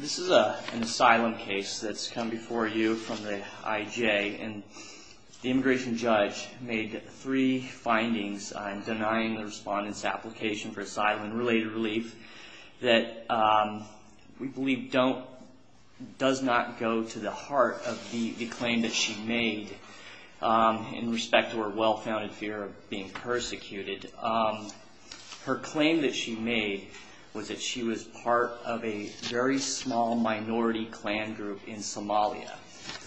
This is an asylum case that's come before you from the IJ. The immigration judge made three findings on denying the respondent's application for asylum-related relief that we believe does not go to the heart of the claim that she made in respect to her well-founded fear of being persecuted. Her claim that she made was that she was part of a very small minority clan group in Somalia.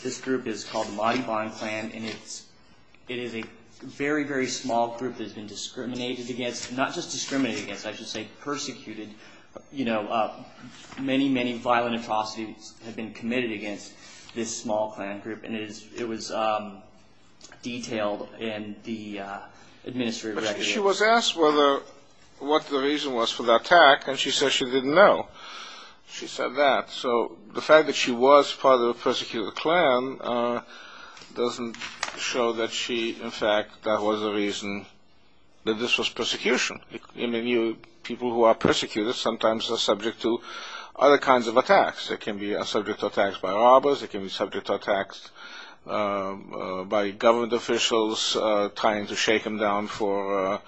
This group is called the Madi Ban clan, and it is a very, very small group that has been discriminated against, not just discriminated against, I should say persecuted. You know, many, many violent atrocities have been committed against this small clan group, and it was detailed in the administrative records. She was asked what the reason was for the attack, and she said she didn't know. She said that. So the fact that she was part of a persecuted clan doesn't show that she, in fact, that was the reason that this was persecution. Many people who are persecuted sometimes are subject to other kinds of attacks. They can be subject to attacks by robbers, they can be subject to attacks by government officials trying to shake them down for,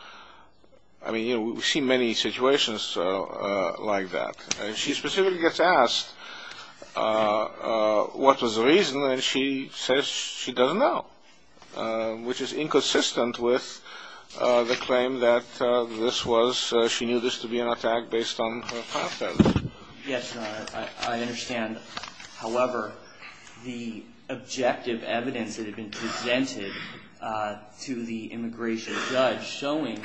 I mean, you know, we've seen many situations like that. And she specifically gets asked what was the reason, and she says she doesn't know, which is inconsistent with the claim that this was, she knew this to be an attack based on her past evidence. Yes, I understand. However, the objective evidence that had been presented to the immigration judge showing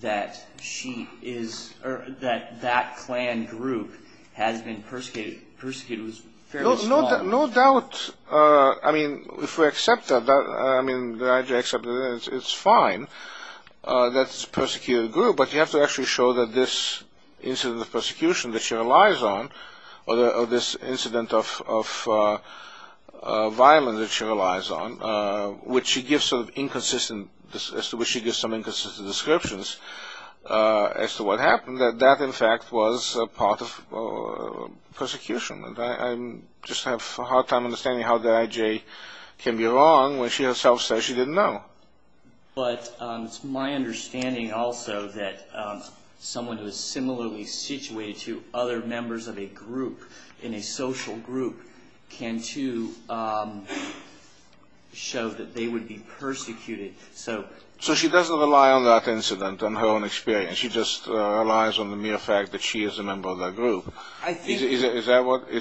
that she is, or that that clan group has been persecuted was fairly small. No doubt, I mean, if we accept that, it's fine that it's a persecuted group, but you have to actually show that this incident of persecution that she relies on, or this incident of violence that she relies on, which she gives some inconsistent descriptions as to what happened, that that, in fact, was part of persecution. I just have a hard time understanding how the IJ can be wrong when she herself says she didn't know. But it's my understanding also that someone who is similarly situated to other members of a group, in a social group, can too show that they would be persecuted. So she doesn't rely on that incident, on her own experience. She just relies on the mere fact that she is a member of that group. Is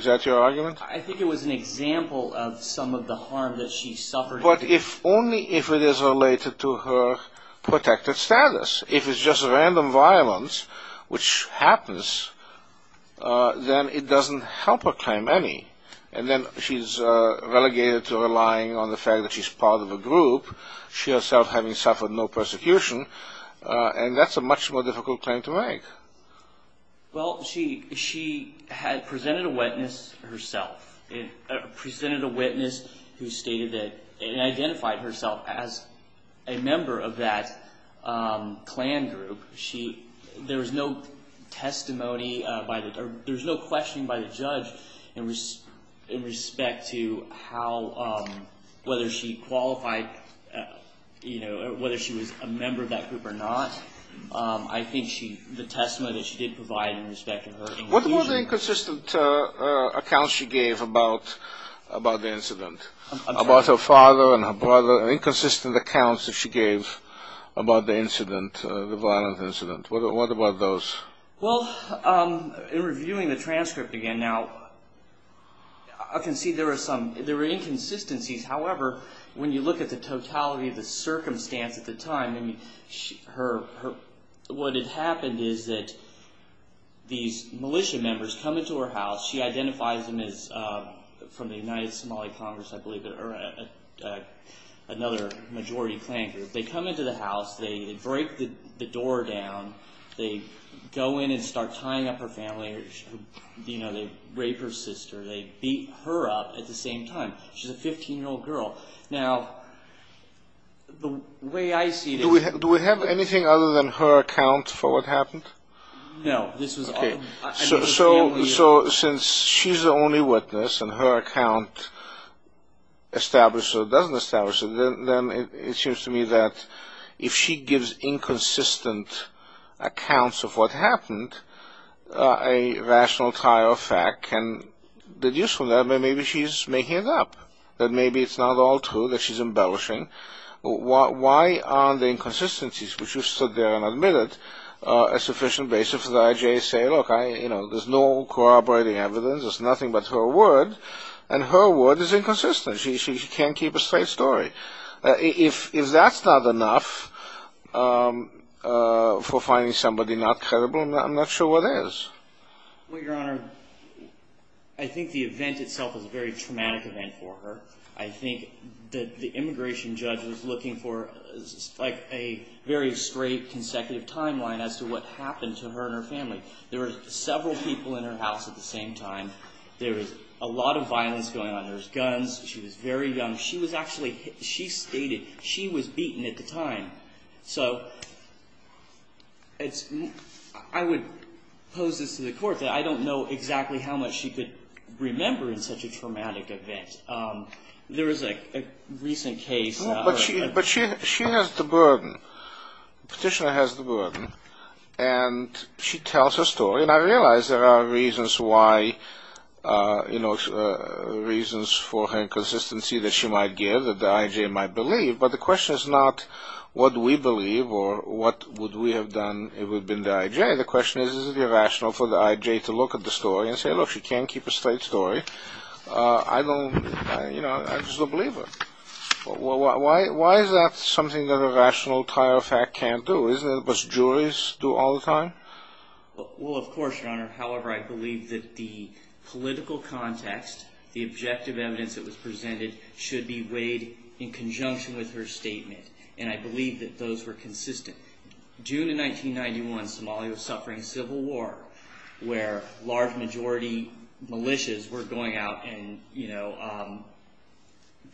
that your argument? I think it was an example of some of the harm that she suffered. But only if it is related to her protected status. If it's just random violence, which happens, then it doesn't help her claim any. And then she's relegated to relying on the fact that she's part of a group, she herself having suffered no persecution, and that's a much more difficult claim to make. Well, she had presented a witness herself, presented a witness who stated that, and identified herself as a member of that Klan group. There was no testimony, there was no questioning by the judge in respect to how, whether she qualified, whether she was a member of that group or not. I think the testimony that she did provide in respect to her... What about the inconsistent accounts she gave about the incident? I'm sorry? About her father and her brother, inconsistent accounts that she gave about the incident, the violent incident. What about those? Well, in reviewing the transcript again now, I can see there were inconsistencies. However, when you look at the totality of the circumstance at the time, what had happened is that these militia members come into her house. She identifies them as, from the United Somali Congress, I believe, another majority Klan group. They come into the house, they break the door down, they go in and start tying up her family. They rape her sister, they beat her up at the same time. She's a 15-year-old girl. Now, the way I see it... Do we have anything other than her account for what happened? No. So, since she's the only witness and her account establishes or doesn't establish it, then it seems to me that if she gives inconsistent accounts of what happened, a rational tie of fact can deduce from that that maybe she's making it up. That maybe it's not all true, that she's embellishing. Why aren't the inconsistencies, which you stood there and admitted, a sufficient basis for the IJA to say, look, there's no corroborating evidence, there's nothing but her word, and her word is inconsistent. She can't keep a straight story. If that's not enough for finding somebody not credible, I'm not sure what is. Well, Your Honor, I think the event itself is a very traumatic event for her. I think that the immigration judge was looking for a very straight, consecutive timeline as to what happened to her and her family. There were several people in her house at the same time. There was a lot of violence going on. There was guns. She was very young. She was actually hit. She stated she was beaten at the time. So I would pose this to the court that I don't know exactly how much she could remember in such a traumatic event. There was a recent case. But she has the burden. Petitioner has the burden. And she tells her story. And I realize there are reasons why, reasons for her inconsistency that she might give, that the IJA might believe. But the question is not what we believe or what would we have done if it had been the IJA. The question is, is it irrational for the IJA to look at the story and say, look, she can't keep a straight story. I don't, you know, I just don't believe her. Why is that something that a rational tire of fact can't do? Isn't it what juries do all the time? Well, of course, Your Honor. However, I believe that the political context, the objective evidence that was presented should be weighed in conjunction with her statement. And I believe that those were consistent. June of 1991, Somalia was suffering a civil war where large majority militias were going out and, you know,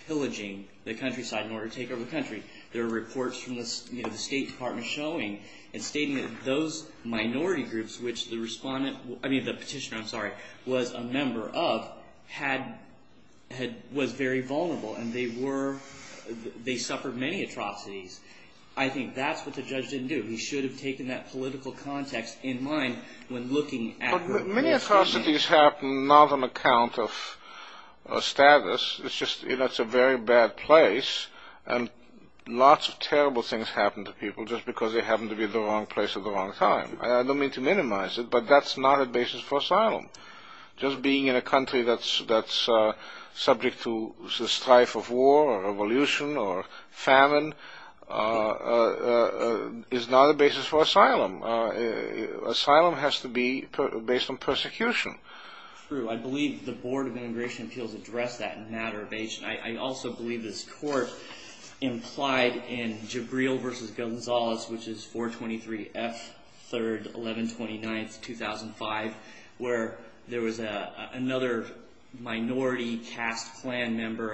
pillaging the countryside in order to take over the country. There were reports from the State Department showing and stating that those minority groups which the respondent, I mean the petitioner, I'm sorry, was a member of, was very vulnerable and they were, they suffered many atrocities. I think that's what the judge didn't do. He should have taken that political context in mind when looking at her statement. But many atrocities happen not on account of status. It's just, you know, it's a very bad place and lots of terrible things happen to people just because they happen to be in the wrong place at the wrong time. I don't mean to minimize it, but that's not a basis for asylum. Just being in a country that's subject to the strife of war or revolution or famine is not a basis for asylum. Asylum has to be based on persecution. True. I believe the Board of Immigration Appeals addressed that in a matter of age. I also believe this court implied in Jabril v. Gonzalez, which is 423 F. 3rd, 1129, 2005, where there was another minority caste clan member.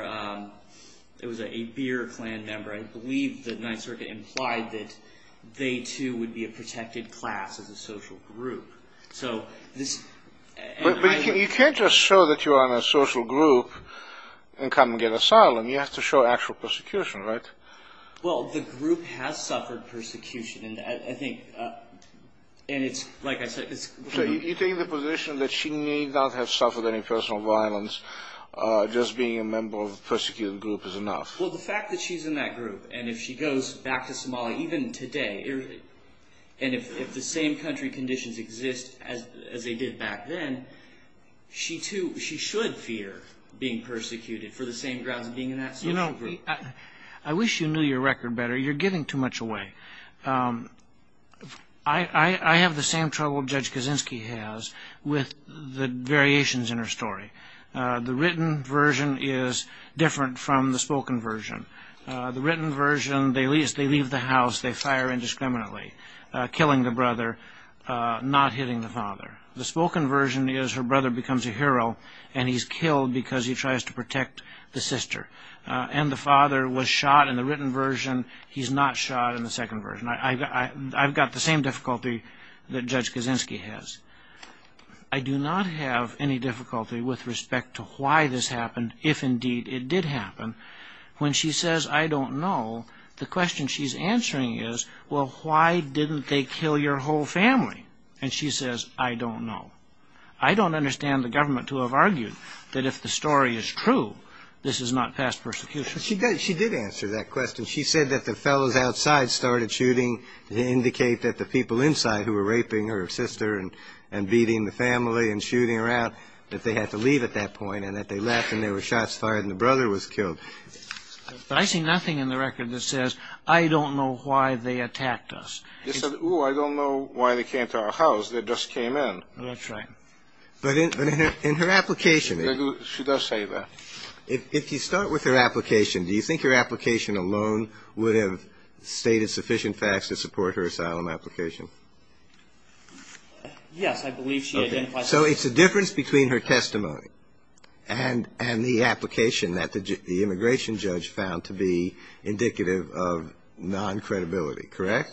It was an Abir clan member. I believe the Ninth Circuit implied that they too would be a protected class as a social group. But you can't just show that you're on a social group and come and get asylum. You have to show actual persecution, right? Well, the group has suffered persecution. You're taking the position that she may not have suffered any personal violence. Just being a member of a persecuted group is enough. Well, the fact that she's in that group and if she goes back to Somalia, even today, and if the same country conditions exist as they did back then, she should fear being persecuted for the same grounds of being in that social group. I wish you knew your record better. You're giving too much away. I have the same trouble Judge Kaczynski has with the variations in her story. The written version is different from the spoken version. The written version, they leave the house, they fire indiscriminately, killing the brother, not hitting the father. The spoken version is her brother becomes a hero and he's killed because he tries to protect the sister. And the father was shot in the written version. He's not shot in the second version. I've got the same difficulty that Judge Kaczynski has. I do not have any difficulty with respect to why this happened, if indeed it did happen. When she says, I don't know, the question she's answering is, well, why didn't they kill your whole family? And she says, I don't know. I don't understand the government to have argued that if the story is true, this is not past persecution. She did answer that question. She said that the fellows outside started shooting to indicate that the people inside who were raping her sister and beating the family and shooting her out, that they had to leave at that point and that they left and there were shots fired and the brother was killed. But I see nothing in the record that says, I don't know why they attacked us. They said, oh, I don't know why they came to our house. They just came in. That's right. But in her application. She does say that. If you start with her application, do you think her application alone would have stated sufficient facts to support her asylum application? Yes, I believe she identifies. So it's a difference between her testimony and the application that the immigration judge found to be indicative of non-credibility, correct?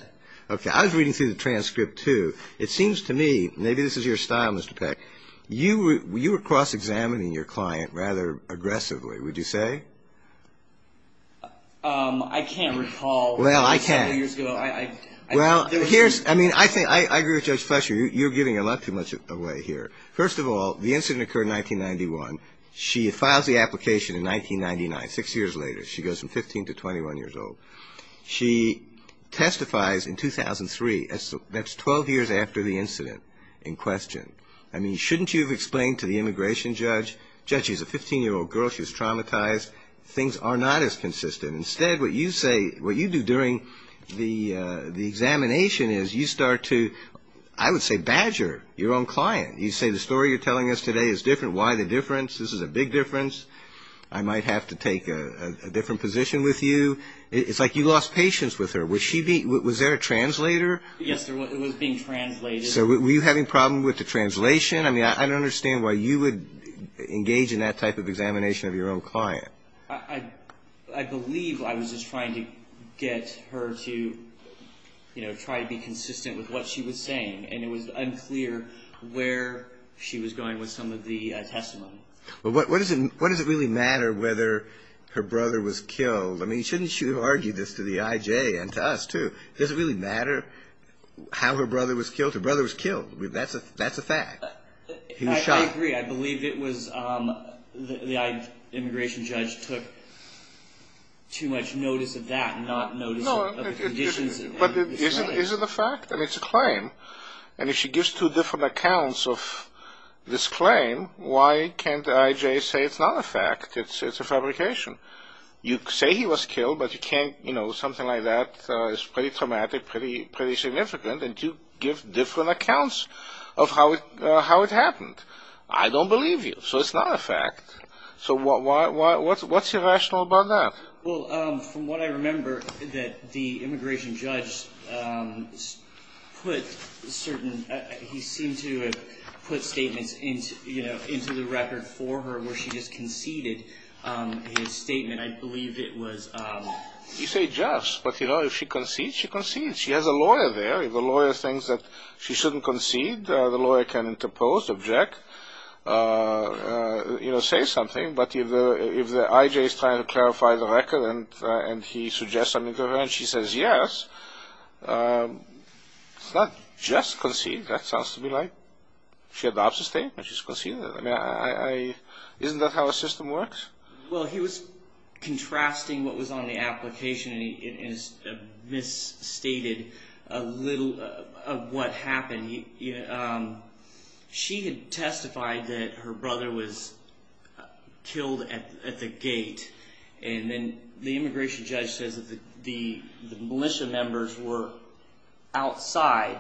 Okay. I was reading through the transcript, too. It seems to me, maybe this is your style, Mr. Peck. You were cross-examining your client rather aggressively, would you say? I can't recall. Well, I can. Well, I agree with Judge Fletcher. You're giving a lot too much away here. First of all, the incident occurred in 1991. She files the application in 1999, six years later. She goes from 15 to 21 years old. She testifies in 2003. That's 12 years after the incident in question. I mean, shouldn't you have explained to the immigration judge, Judge, she's a 15-year-old girl. She was traumatized. Things are not as consistent. Instead, what you do during the examination is you start to, I would say, badger your own client. You say, the story you're telling us today is different. Why the difference? This is a big difference. I might have to take a different position with you. It's like you lost patience with her. Was there a translator? Yes, there was. It was being translated. So were you having a problem with the translation? I mean, I don't understand why you would engage in that type of examination of your own client. I believe I was just trying to get her to, you know, try to be consistent with what she was saying. And it was unclear where she was going with some of the testimony. Well, what does it really matter whether her brother was killed? I mean, shouldn't you argue this to the IJ and to us, too? Does it really matter how her brother was killed? Her brother was killed. That's a fact. I agree. I believe it was the immigration judge took too much notice of that and not notice of the conditions. But is it a fact? I mean, it's a claim. And if she gives two different accounts of this claim, why can't the IJ say it's not a fact, it's a fabrication? You say he was killed, but you can't, you know, something like that is pretty traumatic, pretty significant, and to give different accounts of how it happened. I don't believe you. So it's not a fact. So what's irrational about that? Well, from what I remember, that the immigration judge put certain – he seemed to have put statements into the record for her where she just conceded his statement. I believe it was – You say just, but, you know, if she concedes, she concedes. She has a lawyer there. If the lawyer thinks that she shouldn't concede, the lawyer can interpose, object, you know, say something. But if the IJ is trying to clarify the record and he suggests something to her and she says yes, it's not just conceded. That sounds to me like she adopts a statement, she's conceded it. I mean, isn't that how a system works? Well, he was contrasting what was on the application and he misstated a little of what happened. She had testified that her brother was killed at the gate, and then the immigration judge says that the militia members were outside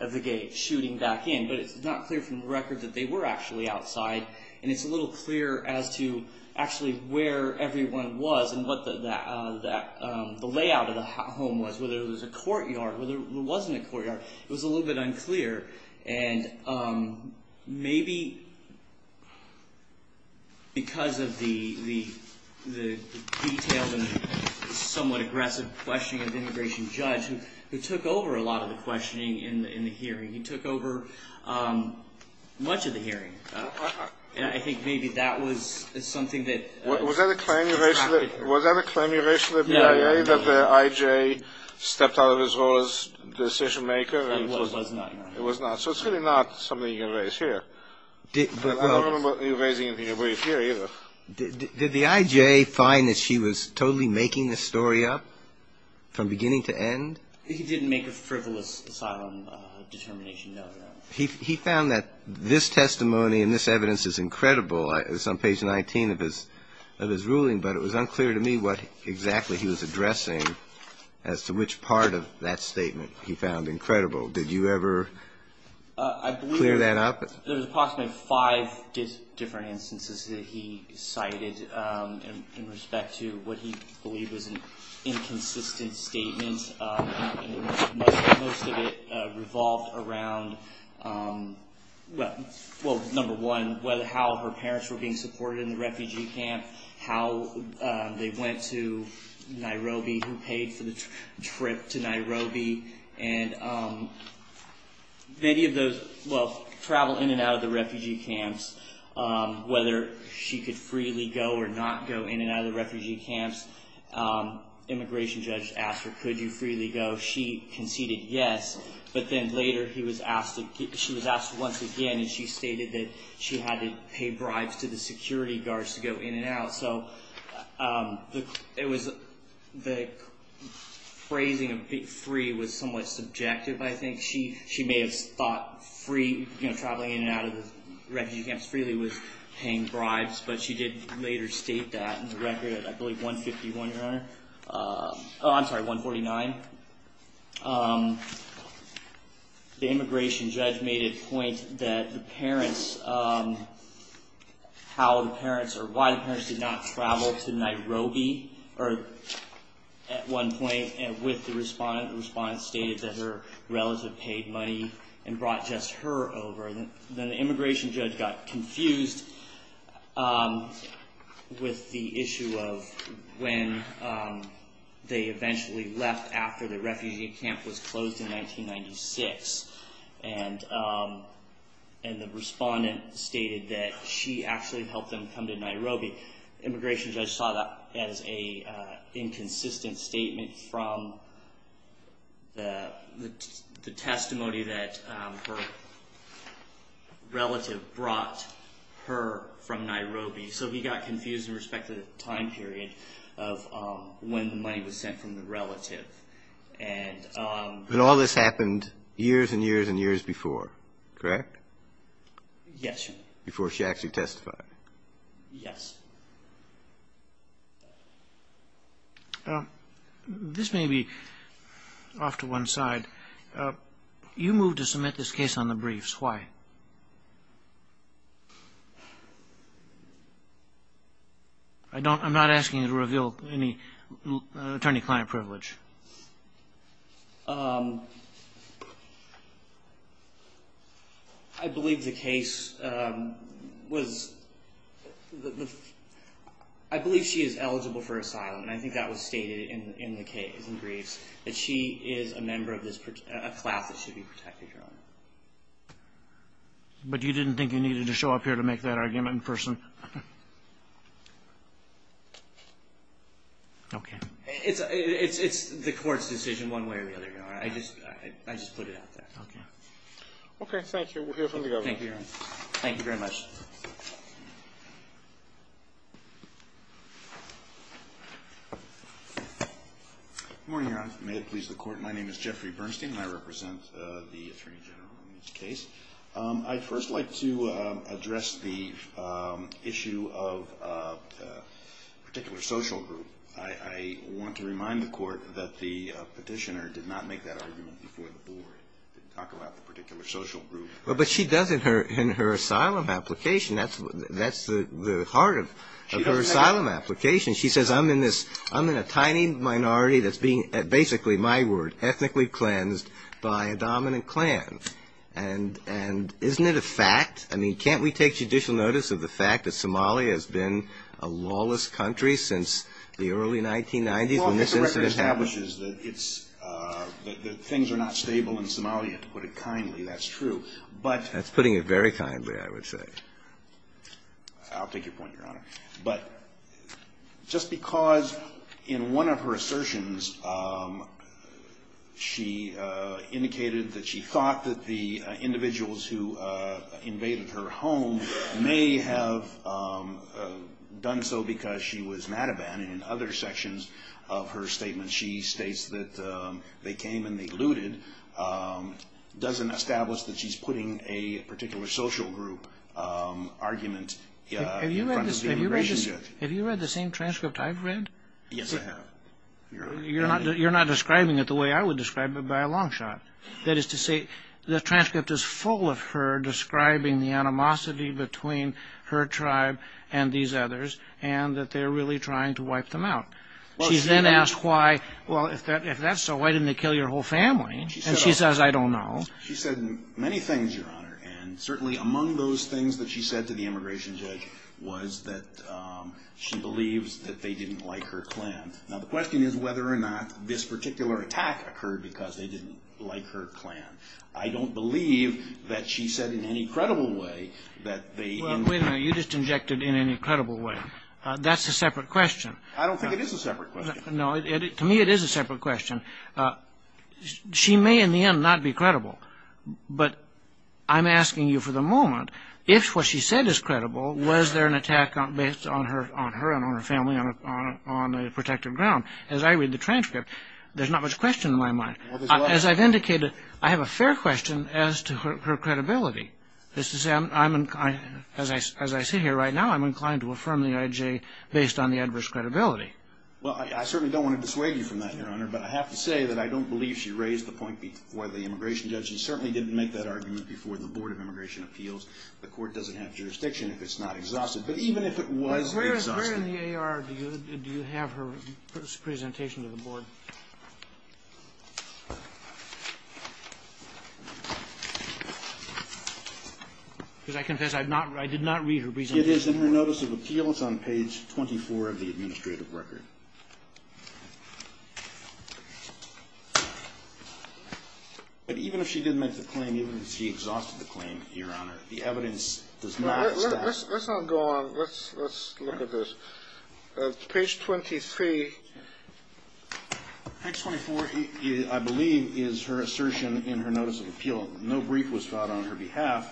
of the gate shooting back in, but it's not clear from the record that they were actually outside, and it's a little clearer as to actually where everyone was and what the layout of the home was, whether it was a courtyard, whether it wasn't a courtyard. It was a little bit unclear, and maybe because of the detailed and somewhat aggressive questioning of the immigration judge, who took over a lot of the questioning in the hearing, he took over much of the hearing, and I think maybe that was something that was not clear. Was that a claim you raised to the BIA that the IJ stepped out of his role as decision maker? It was not. It was not. So it's really not something you can raise here. I don't remember you raising it here either. Did the IJ find that she was totally making the story up from beginning to end? He didn't make a frivolous asylum determination, no, Your Honor. He found that this testimony and this evidence is incredible. It's on page 19 of his ruling, but it was unclear to me what exactly he was addressing as to which part of that statement he found incredible. Did you ever clear that up? I believe there was approximately five different instances that he cited in respect to what he believed was an inconsistent statement, and most of it revolved around, well, number one, how her parents were being supported in the refugee camp, how they went to Nairobi, who paid for the trip to Nairobi, and many of those travel in and out of the refugee camps, whether she could freely go or not go in and out of the refugee camps. Immigration judge asked her, could you freely go? She conceded yes, but then later she was asked once again, and she stated that she had to pay bribes to the security guards to go in and out. So the phrasing of being free was somewhat subjective, I think. She may have thought traveling in and out of the refugee camps freely was paying bribes, but she did later state that in the record at, I believe, 151, Your Honor. Oh, I'm sorry, 149. The immigration judge made it a point that the parents, how the parents, or why the parents did not travel to Nairobi at one point, and with the respondent, the respondent stated that her relative paid money and brought just her over. Then the immigration judge got confused with the issue of when they eventually left after the refugee camp was closed in 1996, and the respondent stated that she actually helped them come to Nairobi. Immigration judge saw that as an inconsistent statement from the testimony that her relative brought her from Nairobi. So he got confused in respect to the time period of when the money was sent from the relative. But all this happened years and years and years before, correct? Yes, Your Honor. Before she actually testified. Yes. This may be off to one side. You moved to submit this case on the briefs. Why? I'm not asking you to reveal any attorney-client privilege. I believe the case was, I believe she is eligible for asylum, and I think that was stated in the case, in the briefs, that she is a member of a class that should be protected, Your Honor. But you didn't think you needed to show up here to make that argument in person? Okay. It's the Court's decision one way or the other, Your Honor. I just put it out there. Okay. Okay, thank you. We'll hear from the Governor. Thank you, Your Honor. Thank you very much. Good morning, Your Honor. May it please the Court, my name is Jeffrey Bernstein, and I represent the Attorney General on this case. I'd first like to address the issue of a particular social group. I want to remind the Court that the petitioner did not make that argument before the Board, didn't talk about the particular social group. But she does in her asylum application. That's the heart of her asylum application. She says, I'm in a tiny minority that's being, basically, my word, ethnically cleansed by a dominant clan. And isn't it a fact? I mean, can't we take judicial notice of the fact that Somalia has been a lawless country since the early 1990s when this incident happened? Well, the record establishes that it's – that things are not stable in Somalia, to put it kindly. That's true. That's putting it very kindly, I would say. I'll take your point, Your Honor. But just because in one of her assertions she indicated that she thought that the individuals who invaded her home may have done so because she was Madaban, and in other sections of her statement she states that they came and they looted, doesn't establish that she's putting a particular social group argument in front of the immigration judge. Have you read the same transcript I've read? Yes, I have. You're not describing it the way I would describe it by a long shot. That is to say, the transcript is full of her describing the animosity between her tribe and these others and that they're really trying to wipe them out. She then asks why – well, if that's so, why didn't they kill your whole family? And she says, I don't know. She said many things, Your Honor, and certainly among those things that she said to the immigration judge was that she believes that they didn't like her clan. Now, the question is whether or not this particular attack occurred because they didn't like her clan. I don't believe that she said in any credible way that they – Well, wait a minute. You just injected in any credible way. That's a separate question. I don't think it is a separate question. No, to me it is a separate question. She may in the end not be credible, but I'm asking you for the moment, if what she said is credible, was there an attack based on her and on her family on a protective ground? As I read the transcript, there's not much question in my mind. As I've indicated, I have a fair question as to her credibility. That is to say, as I sit here right now, I'm inclined to affirm the IJ based on the adverse credibility. Well, I certainly don't want to dissuade you from that, Your Honor, but I have to say that I don't believe she raised the point before the immigration judge. She certainly didn't make that argument before the Board of Immigration Appeals. The Court doesn't have jurisdiction if it's not exhausted, but even if it was exhausted. Where in the AR do you have her presentation to the Board? Because I confess I did not read her presentation. It is in her Notice of Appeals on page 24 of the administrative record. But even if she did make the claim, even if she exhausted the claim, Your Honor, the evidence does not establish that. Let's not go on. Let's look at this. Page 23. Page 24, I believe, is her assertion in her Notice of Appeal. No brief was filed on her behalf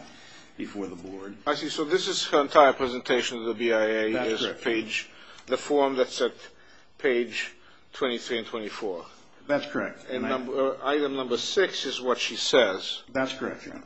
before the Board. I see. So this is her entire presentation to the BIA. That's correct. The form that's at page 23 and 24. That's correct. Item number 6 is what she says. That's correct, Your Honor.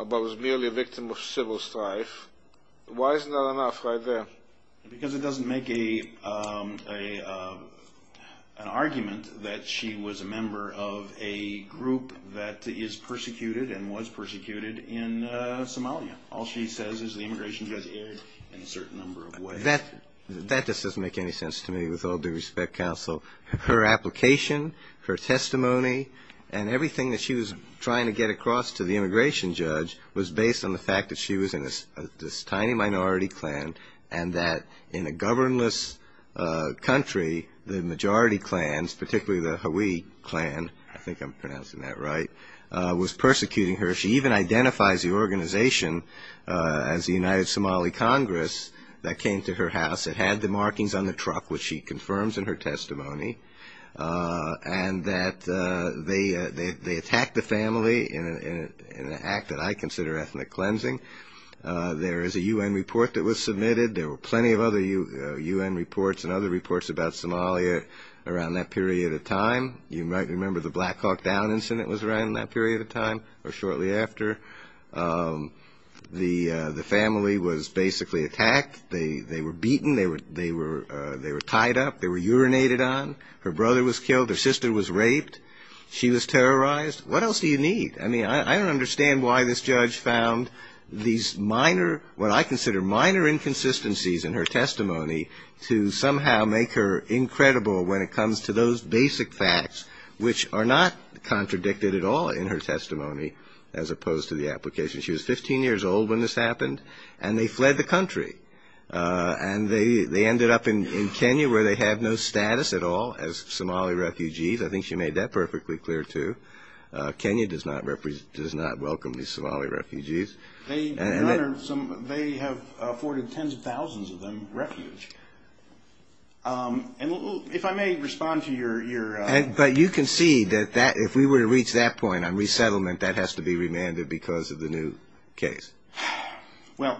But was merely a victim of civil strife. Why isn't that enough right there? Because it doesn't make an argument that she was a member of a group that is persecuted and was persecuted in Somalia. All she says is the immigration judge erred in a certain number of ways. That just doesn't make any sense to me with all due respect, Counsel. Her application, her testimony, and everything that she was trying to get across to the immigration judge was based on the fact that she was in this tiny minority clan and that in a governless country, the majority clans, particularly the Hawi clan, I think I'm pronouncing that right, was persecuting her. She even identifies the organization as the United Somali Congress that came to her house. It had the markings on the truck, which she confirms in her testimony, and that they attacked the family in an act that I consider ethnic cleansing. There is a U.N. report that was submitted. There were plenty of other U.N. reports and other reports about Somalia around that period of time. You might remember the Black Hawk Down incident was around that period of time or shortly after. The family was basically attacked. They were beaten. They were tied up. They were urinated on. Her brother was killed. Her sister was raped. She was terrorized. What else do you need? I mean, I don't understand why this judge found these minor, what I consider minor inconsistencies in her testimony to somehow make her incredible when it comes to those basic facts, which are not contradicted at all in her testimony as opposed to the application. She was 15 years old when this happened, and they fled the country, and they ended up in Kenya where they have no status at all as Somali refugees. I think she made that perfectly clear, too. Kenya does not welcome these Somali refugees. They have afforded tens of thousands of them refuge. If I may respond to your question. But you can see that if we were to reach that point on resettlement, that has to be remanded because of the new case. Well,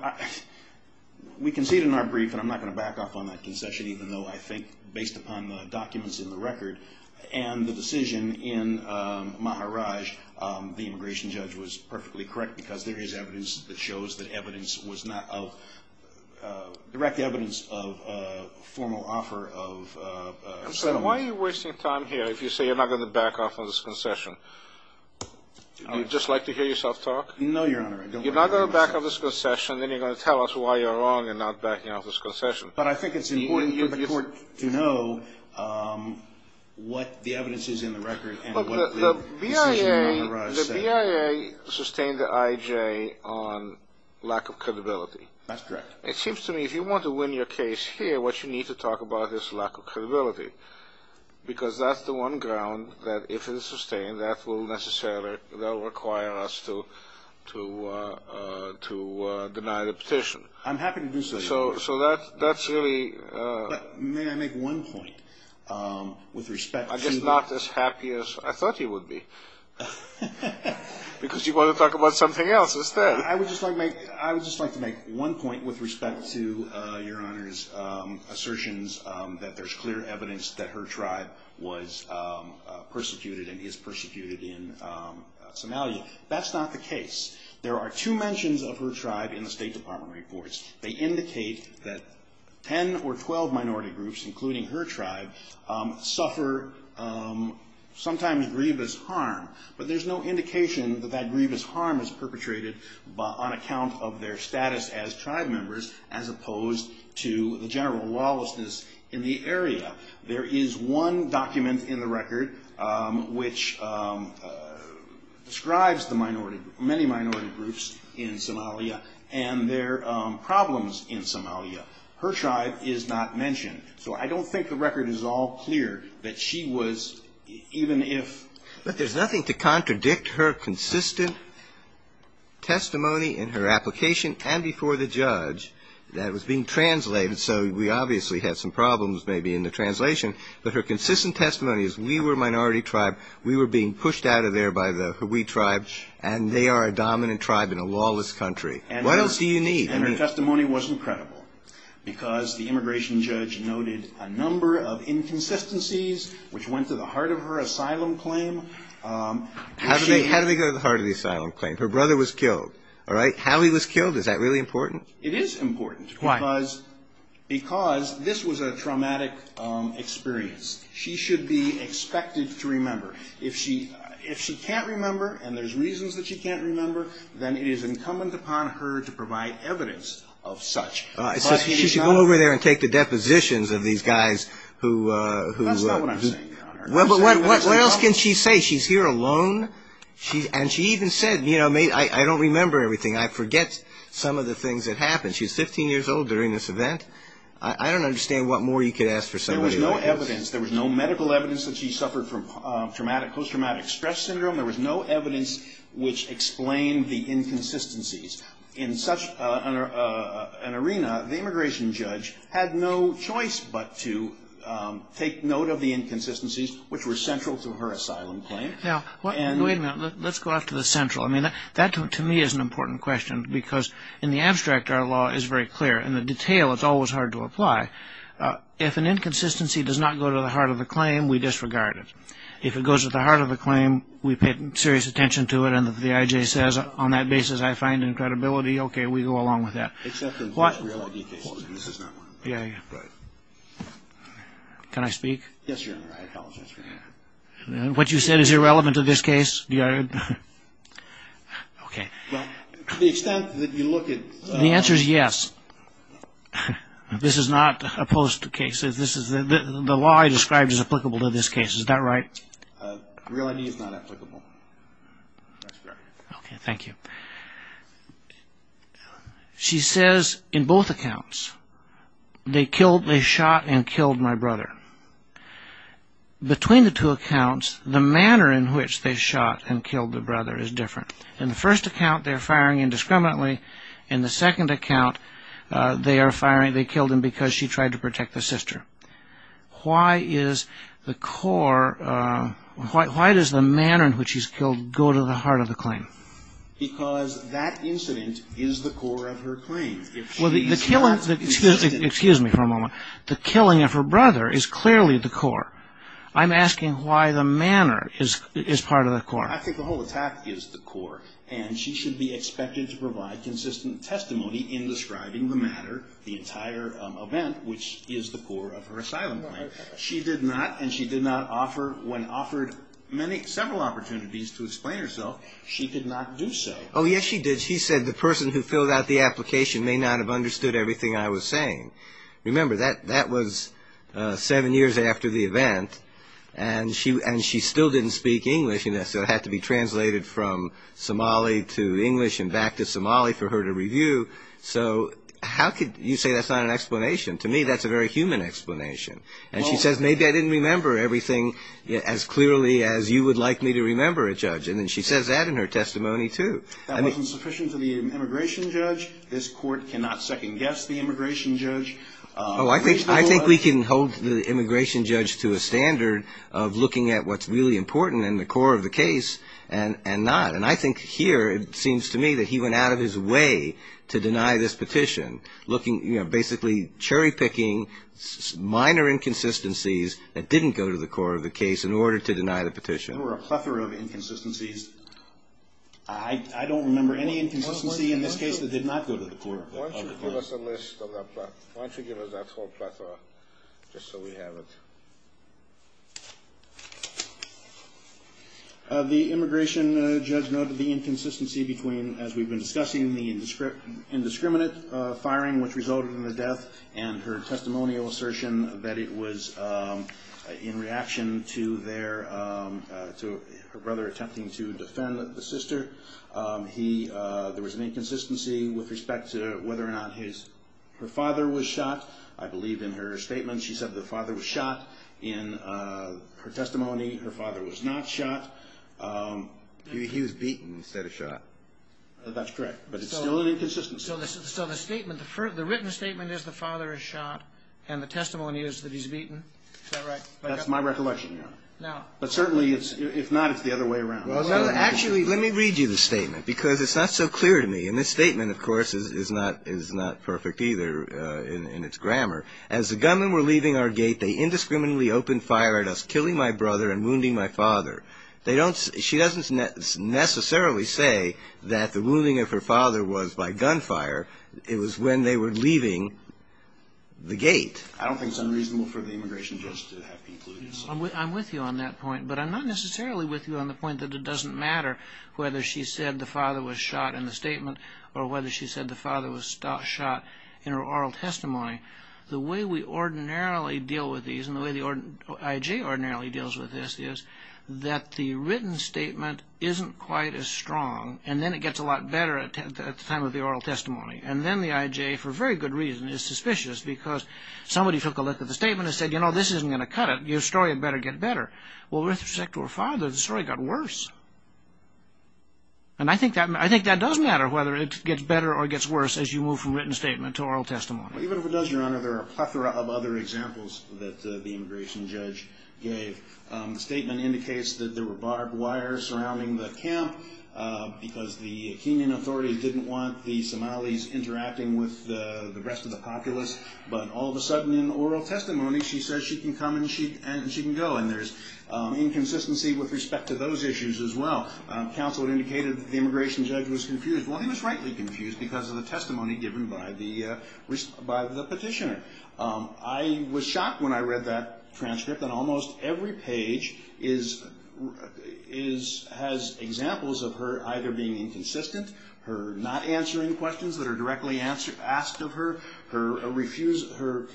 we conceded in our brief, and I'm not going to back off on that concession, even though I think based upon the documents in the record and the decision in Maharaj, the immigration judge was perfectly correct because there is evidence that shows that evidence was not of direct evidence of formal offer of settlement. Why are you wasting time here if you say you're not going to back off on this concession? Would you just like to hear yourself talk? No, Your Honor. You're not going to back off on this concession, and then you're going to tell us why you're wrong in not backing off on this concession. But I think it's important for the court to know what the evidence is in the record and what the decision in Maharaj said. The BIA sustained the IJ on lack of credibility. That's correct. It seems to me if you want to win your case here, what you need to talk about is lack of credibility, because that's the one ground that if it's sustained, that will necessarily require us to deny the petition. I'm happy to do so, Your Honor. So that's really – May I make one point with respect to – I guess not as happy as I thought you would be, because you're going to talk about something else instead. I would just like to make one point with respect to Your Honor's assertions that there's clear evidence that her tribe was persecuted and is persecuted in Somalia. That's not the case. There are two mentions of her tribe in the State Department reports. They indicate that 10 or 12 minority groups, including her tribe, suffer sometimes grievous harm, but there's no indication that that grievous harm is perpetrated on account of their status as tribe members as opposed to the general lawlessness in the area. There is one document in the record which describes the minority – many minority groups in Somalia and their problems in Somalia. Her tribe is not mentioned, so I don't think the record is all clear that she was, even if – But there's nothing to contradict her consistent testimony in her application and before the judge that was being translated, so we obviously had some problems maybe in the translation, but her consistent testimony is we were a minority tribe, we were being pushed out of there by the – we tribe, and they are a dominant tribe in a lawless country. What else do you need? And her testimony wasn't credible, because the immigration judge noted a number of inconsistencies which went to the heart of her asylum claim. How did they go to the heart of the asylum claim? Her brother was killed, all right? How he was killed, is that really important? It is important. Why? Because this was a traumatic experience. She should be expected to remember. If she can't remember and there's reasons that she can't remember, then it is incumbent upon her to provide evidence of such. So she should go over there and take the depositions of these guys who – That's not what I'm saying, Your Honor. Well, but what else can she say? She's here alone, and she even said, you know, I don't remember everything. I forget some of the things that happened. She was 15 years old during this event. I don't understand what more you could ask for somebody like this. There was no evidence. There was no medical evidence that she suffered from post-traumatic stress syndrome. There was no evidence which explained the inconsistencies. In such an arena, the immigration judge had no choice but to take note of the inconsistencies which were central to her asylum claim. Now, wait a minute. Let's go off to the central. I mean, that to me is an important question because in the abstract, our law is very clear. In the detail, it's always hard to apply. If an inconsistency does not go to the heart of the claim, we disregard it. If it goes to the heart of the claim, we pay serious attention to it, and then the IJ says, on that basis, I find in credibility, okay, we go along with that. Except in real ID cases. This is not one of them. Yeah, yeah. Right. Can I speak? Yes, you're right. I apologize for that. What you said is irrelevant to this case? Okay. Well, to the extent that you look at… The answer is yes. This is not opposed to cases. The law I described is applicable to this case. Is that right? Real ID is not applicable. That's correct. Okay, thank you. She says, in both accounts, they shot and killed my brother. Between the two accounts, the manner in which they shot and killed the brother is different. In the first account, they're firing indiscriminately. In the second account, they killed him because she tried to protect the sister. Why is the core… Why does the manner in which he's killed go to the heart of the claim? Because that incident is the core of her claim. Well, the killing… Excuse me for a moment. The killing of her brother is clearly the core. I'm asking why the manner is part of the core. I think the whole attack is the core. And she should be expected to provide consistent testimony in describing the matter, the entire event, which is the core of her asylum claim. She did not, and she did not offer, when offered several opportunities to explain herself, she did not do so. Oh, yes, she did. She said, the person who filled out the application may not have understood everything I was saying. Remember, that was seven years after the event, and she still didn't speak English, and so it had to be translated from Somali to English and back to Somali for her to review. So how could you say that's not an explanation? To me, that's a very human explanation. And she says, maybe I didn't remember everything as clearly as you would like me to remember it, Judge. And then she says that in her testimony, too. That wasn't sufficient for the immigration judge. This Court cannot second-guess the immigration judge. Oh, I think we can hold the immigration judge to a standard of looking at what's really important in the core of the case and not. And I think here it seems to me that he went out of his way to deny this petition, basically cherry-picking minor inconsistencies that didn't go to the core of the case in order to deny the petition. There were a plethora of inconsistencies. I don't remember any inconsistency in this case that did not go to the core of the case. Why don't you give us a list of that? Why don't you give us that whole plethora, just so we have it? The immigration judge noted the inconsistency between, as we've been discussing, the indiscriminate firing, which resulted in the death, and her testimonial assertion that it was in reaction to her brother attempting to defend the sister. There was an inconsistency with respect to whether or not her father was shot. I believe in her statement she said the father was shot. In her testimony, her father was not shot. He was beaten instead of shot. That's correct, but it's still an inconsistency. So the written statement is the father is shot, and the testimony is that he's beaten. Is that right? That's my recollection, Your Honor. But certainly, if not, it's the other way around. Well, actually, let me read you the statement, because it's not so clear to me. And this statement, of course, is not perfect either in its grammar. As the gunmen were leaving our gate, they indiscriminately opened fire at us, killing my brother and wounding my father. She doesn't necessarily say that the wounding of her father was by gunfire. It was when they were leaving the gate. I don't think it's unreasonable for the immigration judge to have concluded something like that. I'm with you on that point, but I'm not necessarily with you on the point that it doesn't matter whether she said the father was shot in the statement or whether she said the father was shot in her oral testimony. The way we ordinarily deal with these, and the way the IJ ordinarily deals with this, is that the written statement isn't quite as strong, and then it gets a lot better at the time of the oral testimony. And then the IJ, for very good reason, is suspicious, because somebody took a look at the statement and said, you know, this isn't going to cut it. Your story had better get better. Well, with respect to her father, the story got worse. And I think that does matter, whether it gets better or gets worse, as you move from written statement to oral testimony. Even if it does, Your Honor, there are a plethora of other examples that the immigration judge gave. The statement indicates that there were barbed wire surrounding the camp because the Kenyan authorities didn't want the Somalis interacting with the rest of the populace. But all of a sudden, in oral testimony, she says she can come and she can go. And there's inconsistency with respect to those issues as well. Counsel had indicated that the immigration judge was confused. Well, he was rightly confused because of the testimony given by the petitioner. I was shocked when I read that transcript, and almost every page has examples of her either being inconsistent, her not answering questions that are directly asked of her, her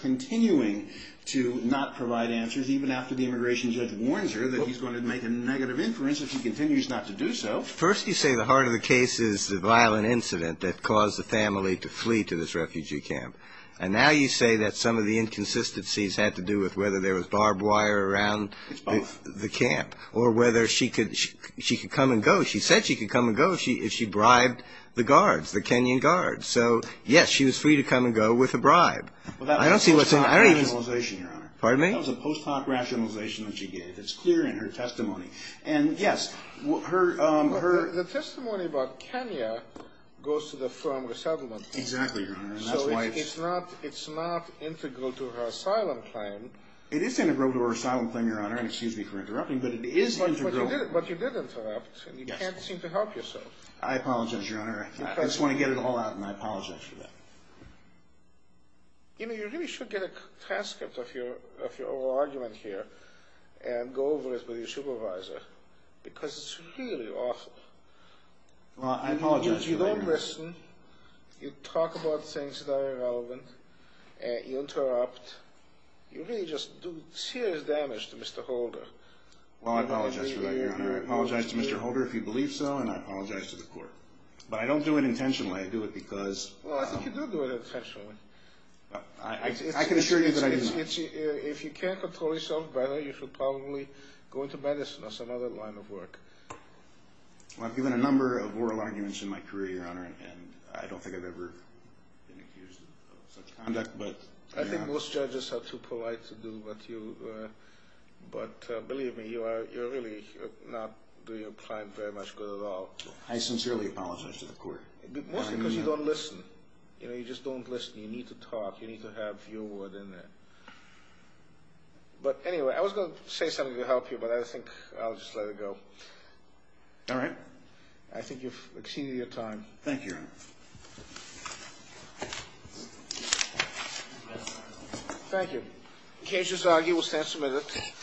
continuing to not provide answers, even after the immigration judge warns her that he's going to make a negative inference if she continues not to do so. First you say the heart of the case is the violent incident that caused the family to flee to this refugee camp. And now you say that some of the inconsistencies had to do with whether there was barbed wire around the camp, or whether she could come and go. So, yes, she was free to come and go with a bribe. Well, that was a post hoc rationalization, Your Honor. Pardon me? That was a post hoc rationalization that she gave. It's clear in her testimony. And, yes, her... The testimony about Kenya goes to the firm Resettlement. Exactly, Your Honor. So it's not integral to her asylum claim. It is integral to her asylum claim, Your Honor. And excuse me for interrupting, but it is integral. But you did interrupt, and you can't seem to help yourself. I apologize, Your Honor. I just want to get it all out, and I apologize for that. You know, you really should get a transcript of your argument here, and go over it with your supervisor. Because it's really awful. Well, I apologize for that, Your Honor. You don't listen. You talk about things that are irrelevant. You interrupt. You really just do serious damage to Mr. Holder. Well, I apologize for that, Your Honor. I apologize to Mr. Holder, if you believe so, and I apologize to the court. But I don't do it intentionally. I do it because... Well, I think you do do it intentionally. I can assure you that I do not. If you can't control yourself better, you should probably go into medicine or some other line of work. Well, I've given a number of oral arguments in my career, Your Honor, and I don't think I've ever been accused of such conduct. I think most judges are too polite to do what you... But believe me, you're really not doing your client very much good at all. I sincerely apologize to the court. Mostly because you don't listen. You know, you just don't listen. You need to talk. You need to have your word in there. But anyway, I was going to say something to help you, but I think I'll just let it go. All right. I think you've exceeded your time. Thank you, Your Honor. Thank you. Cases are given ten minutes.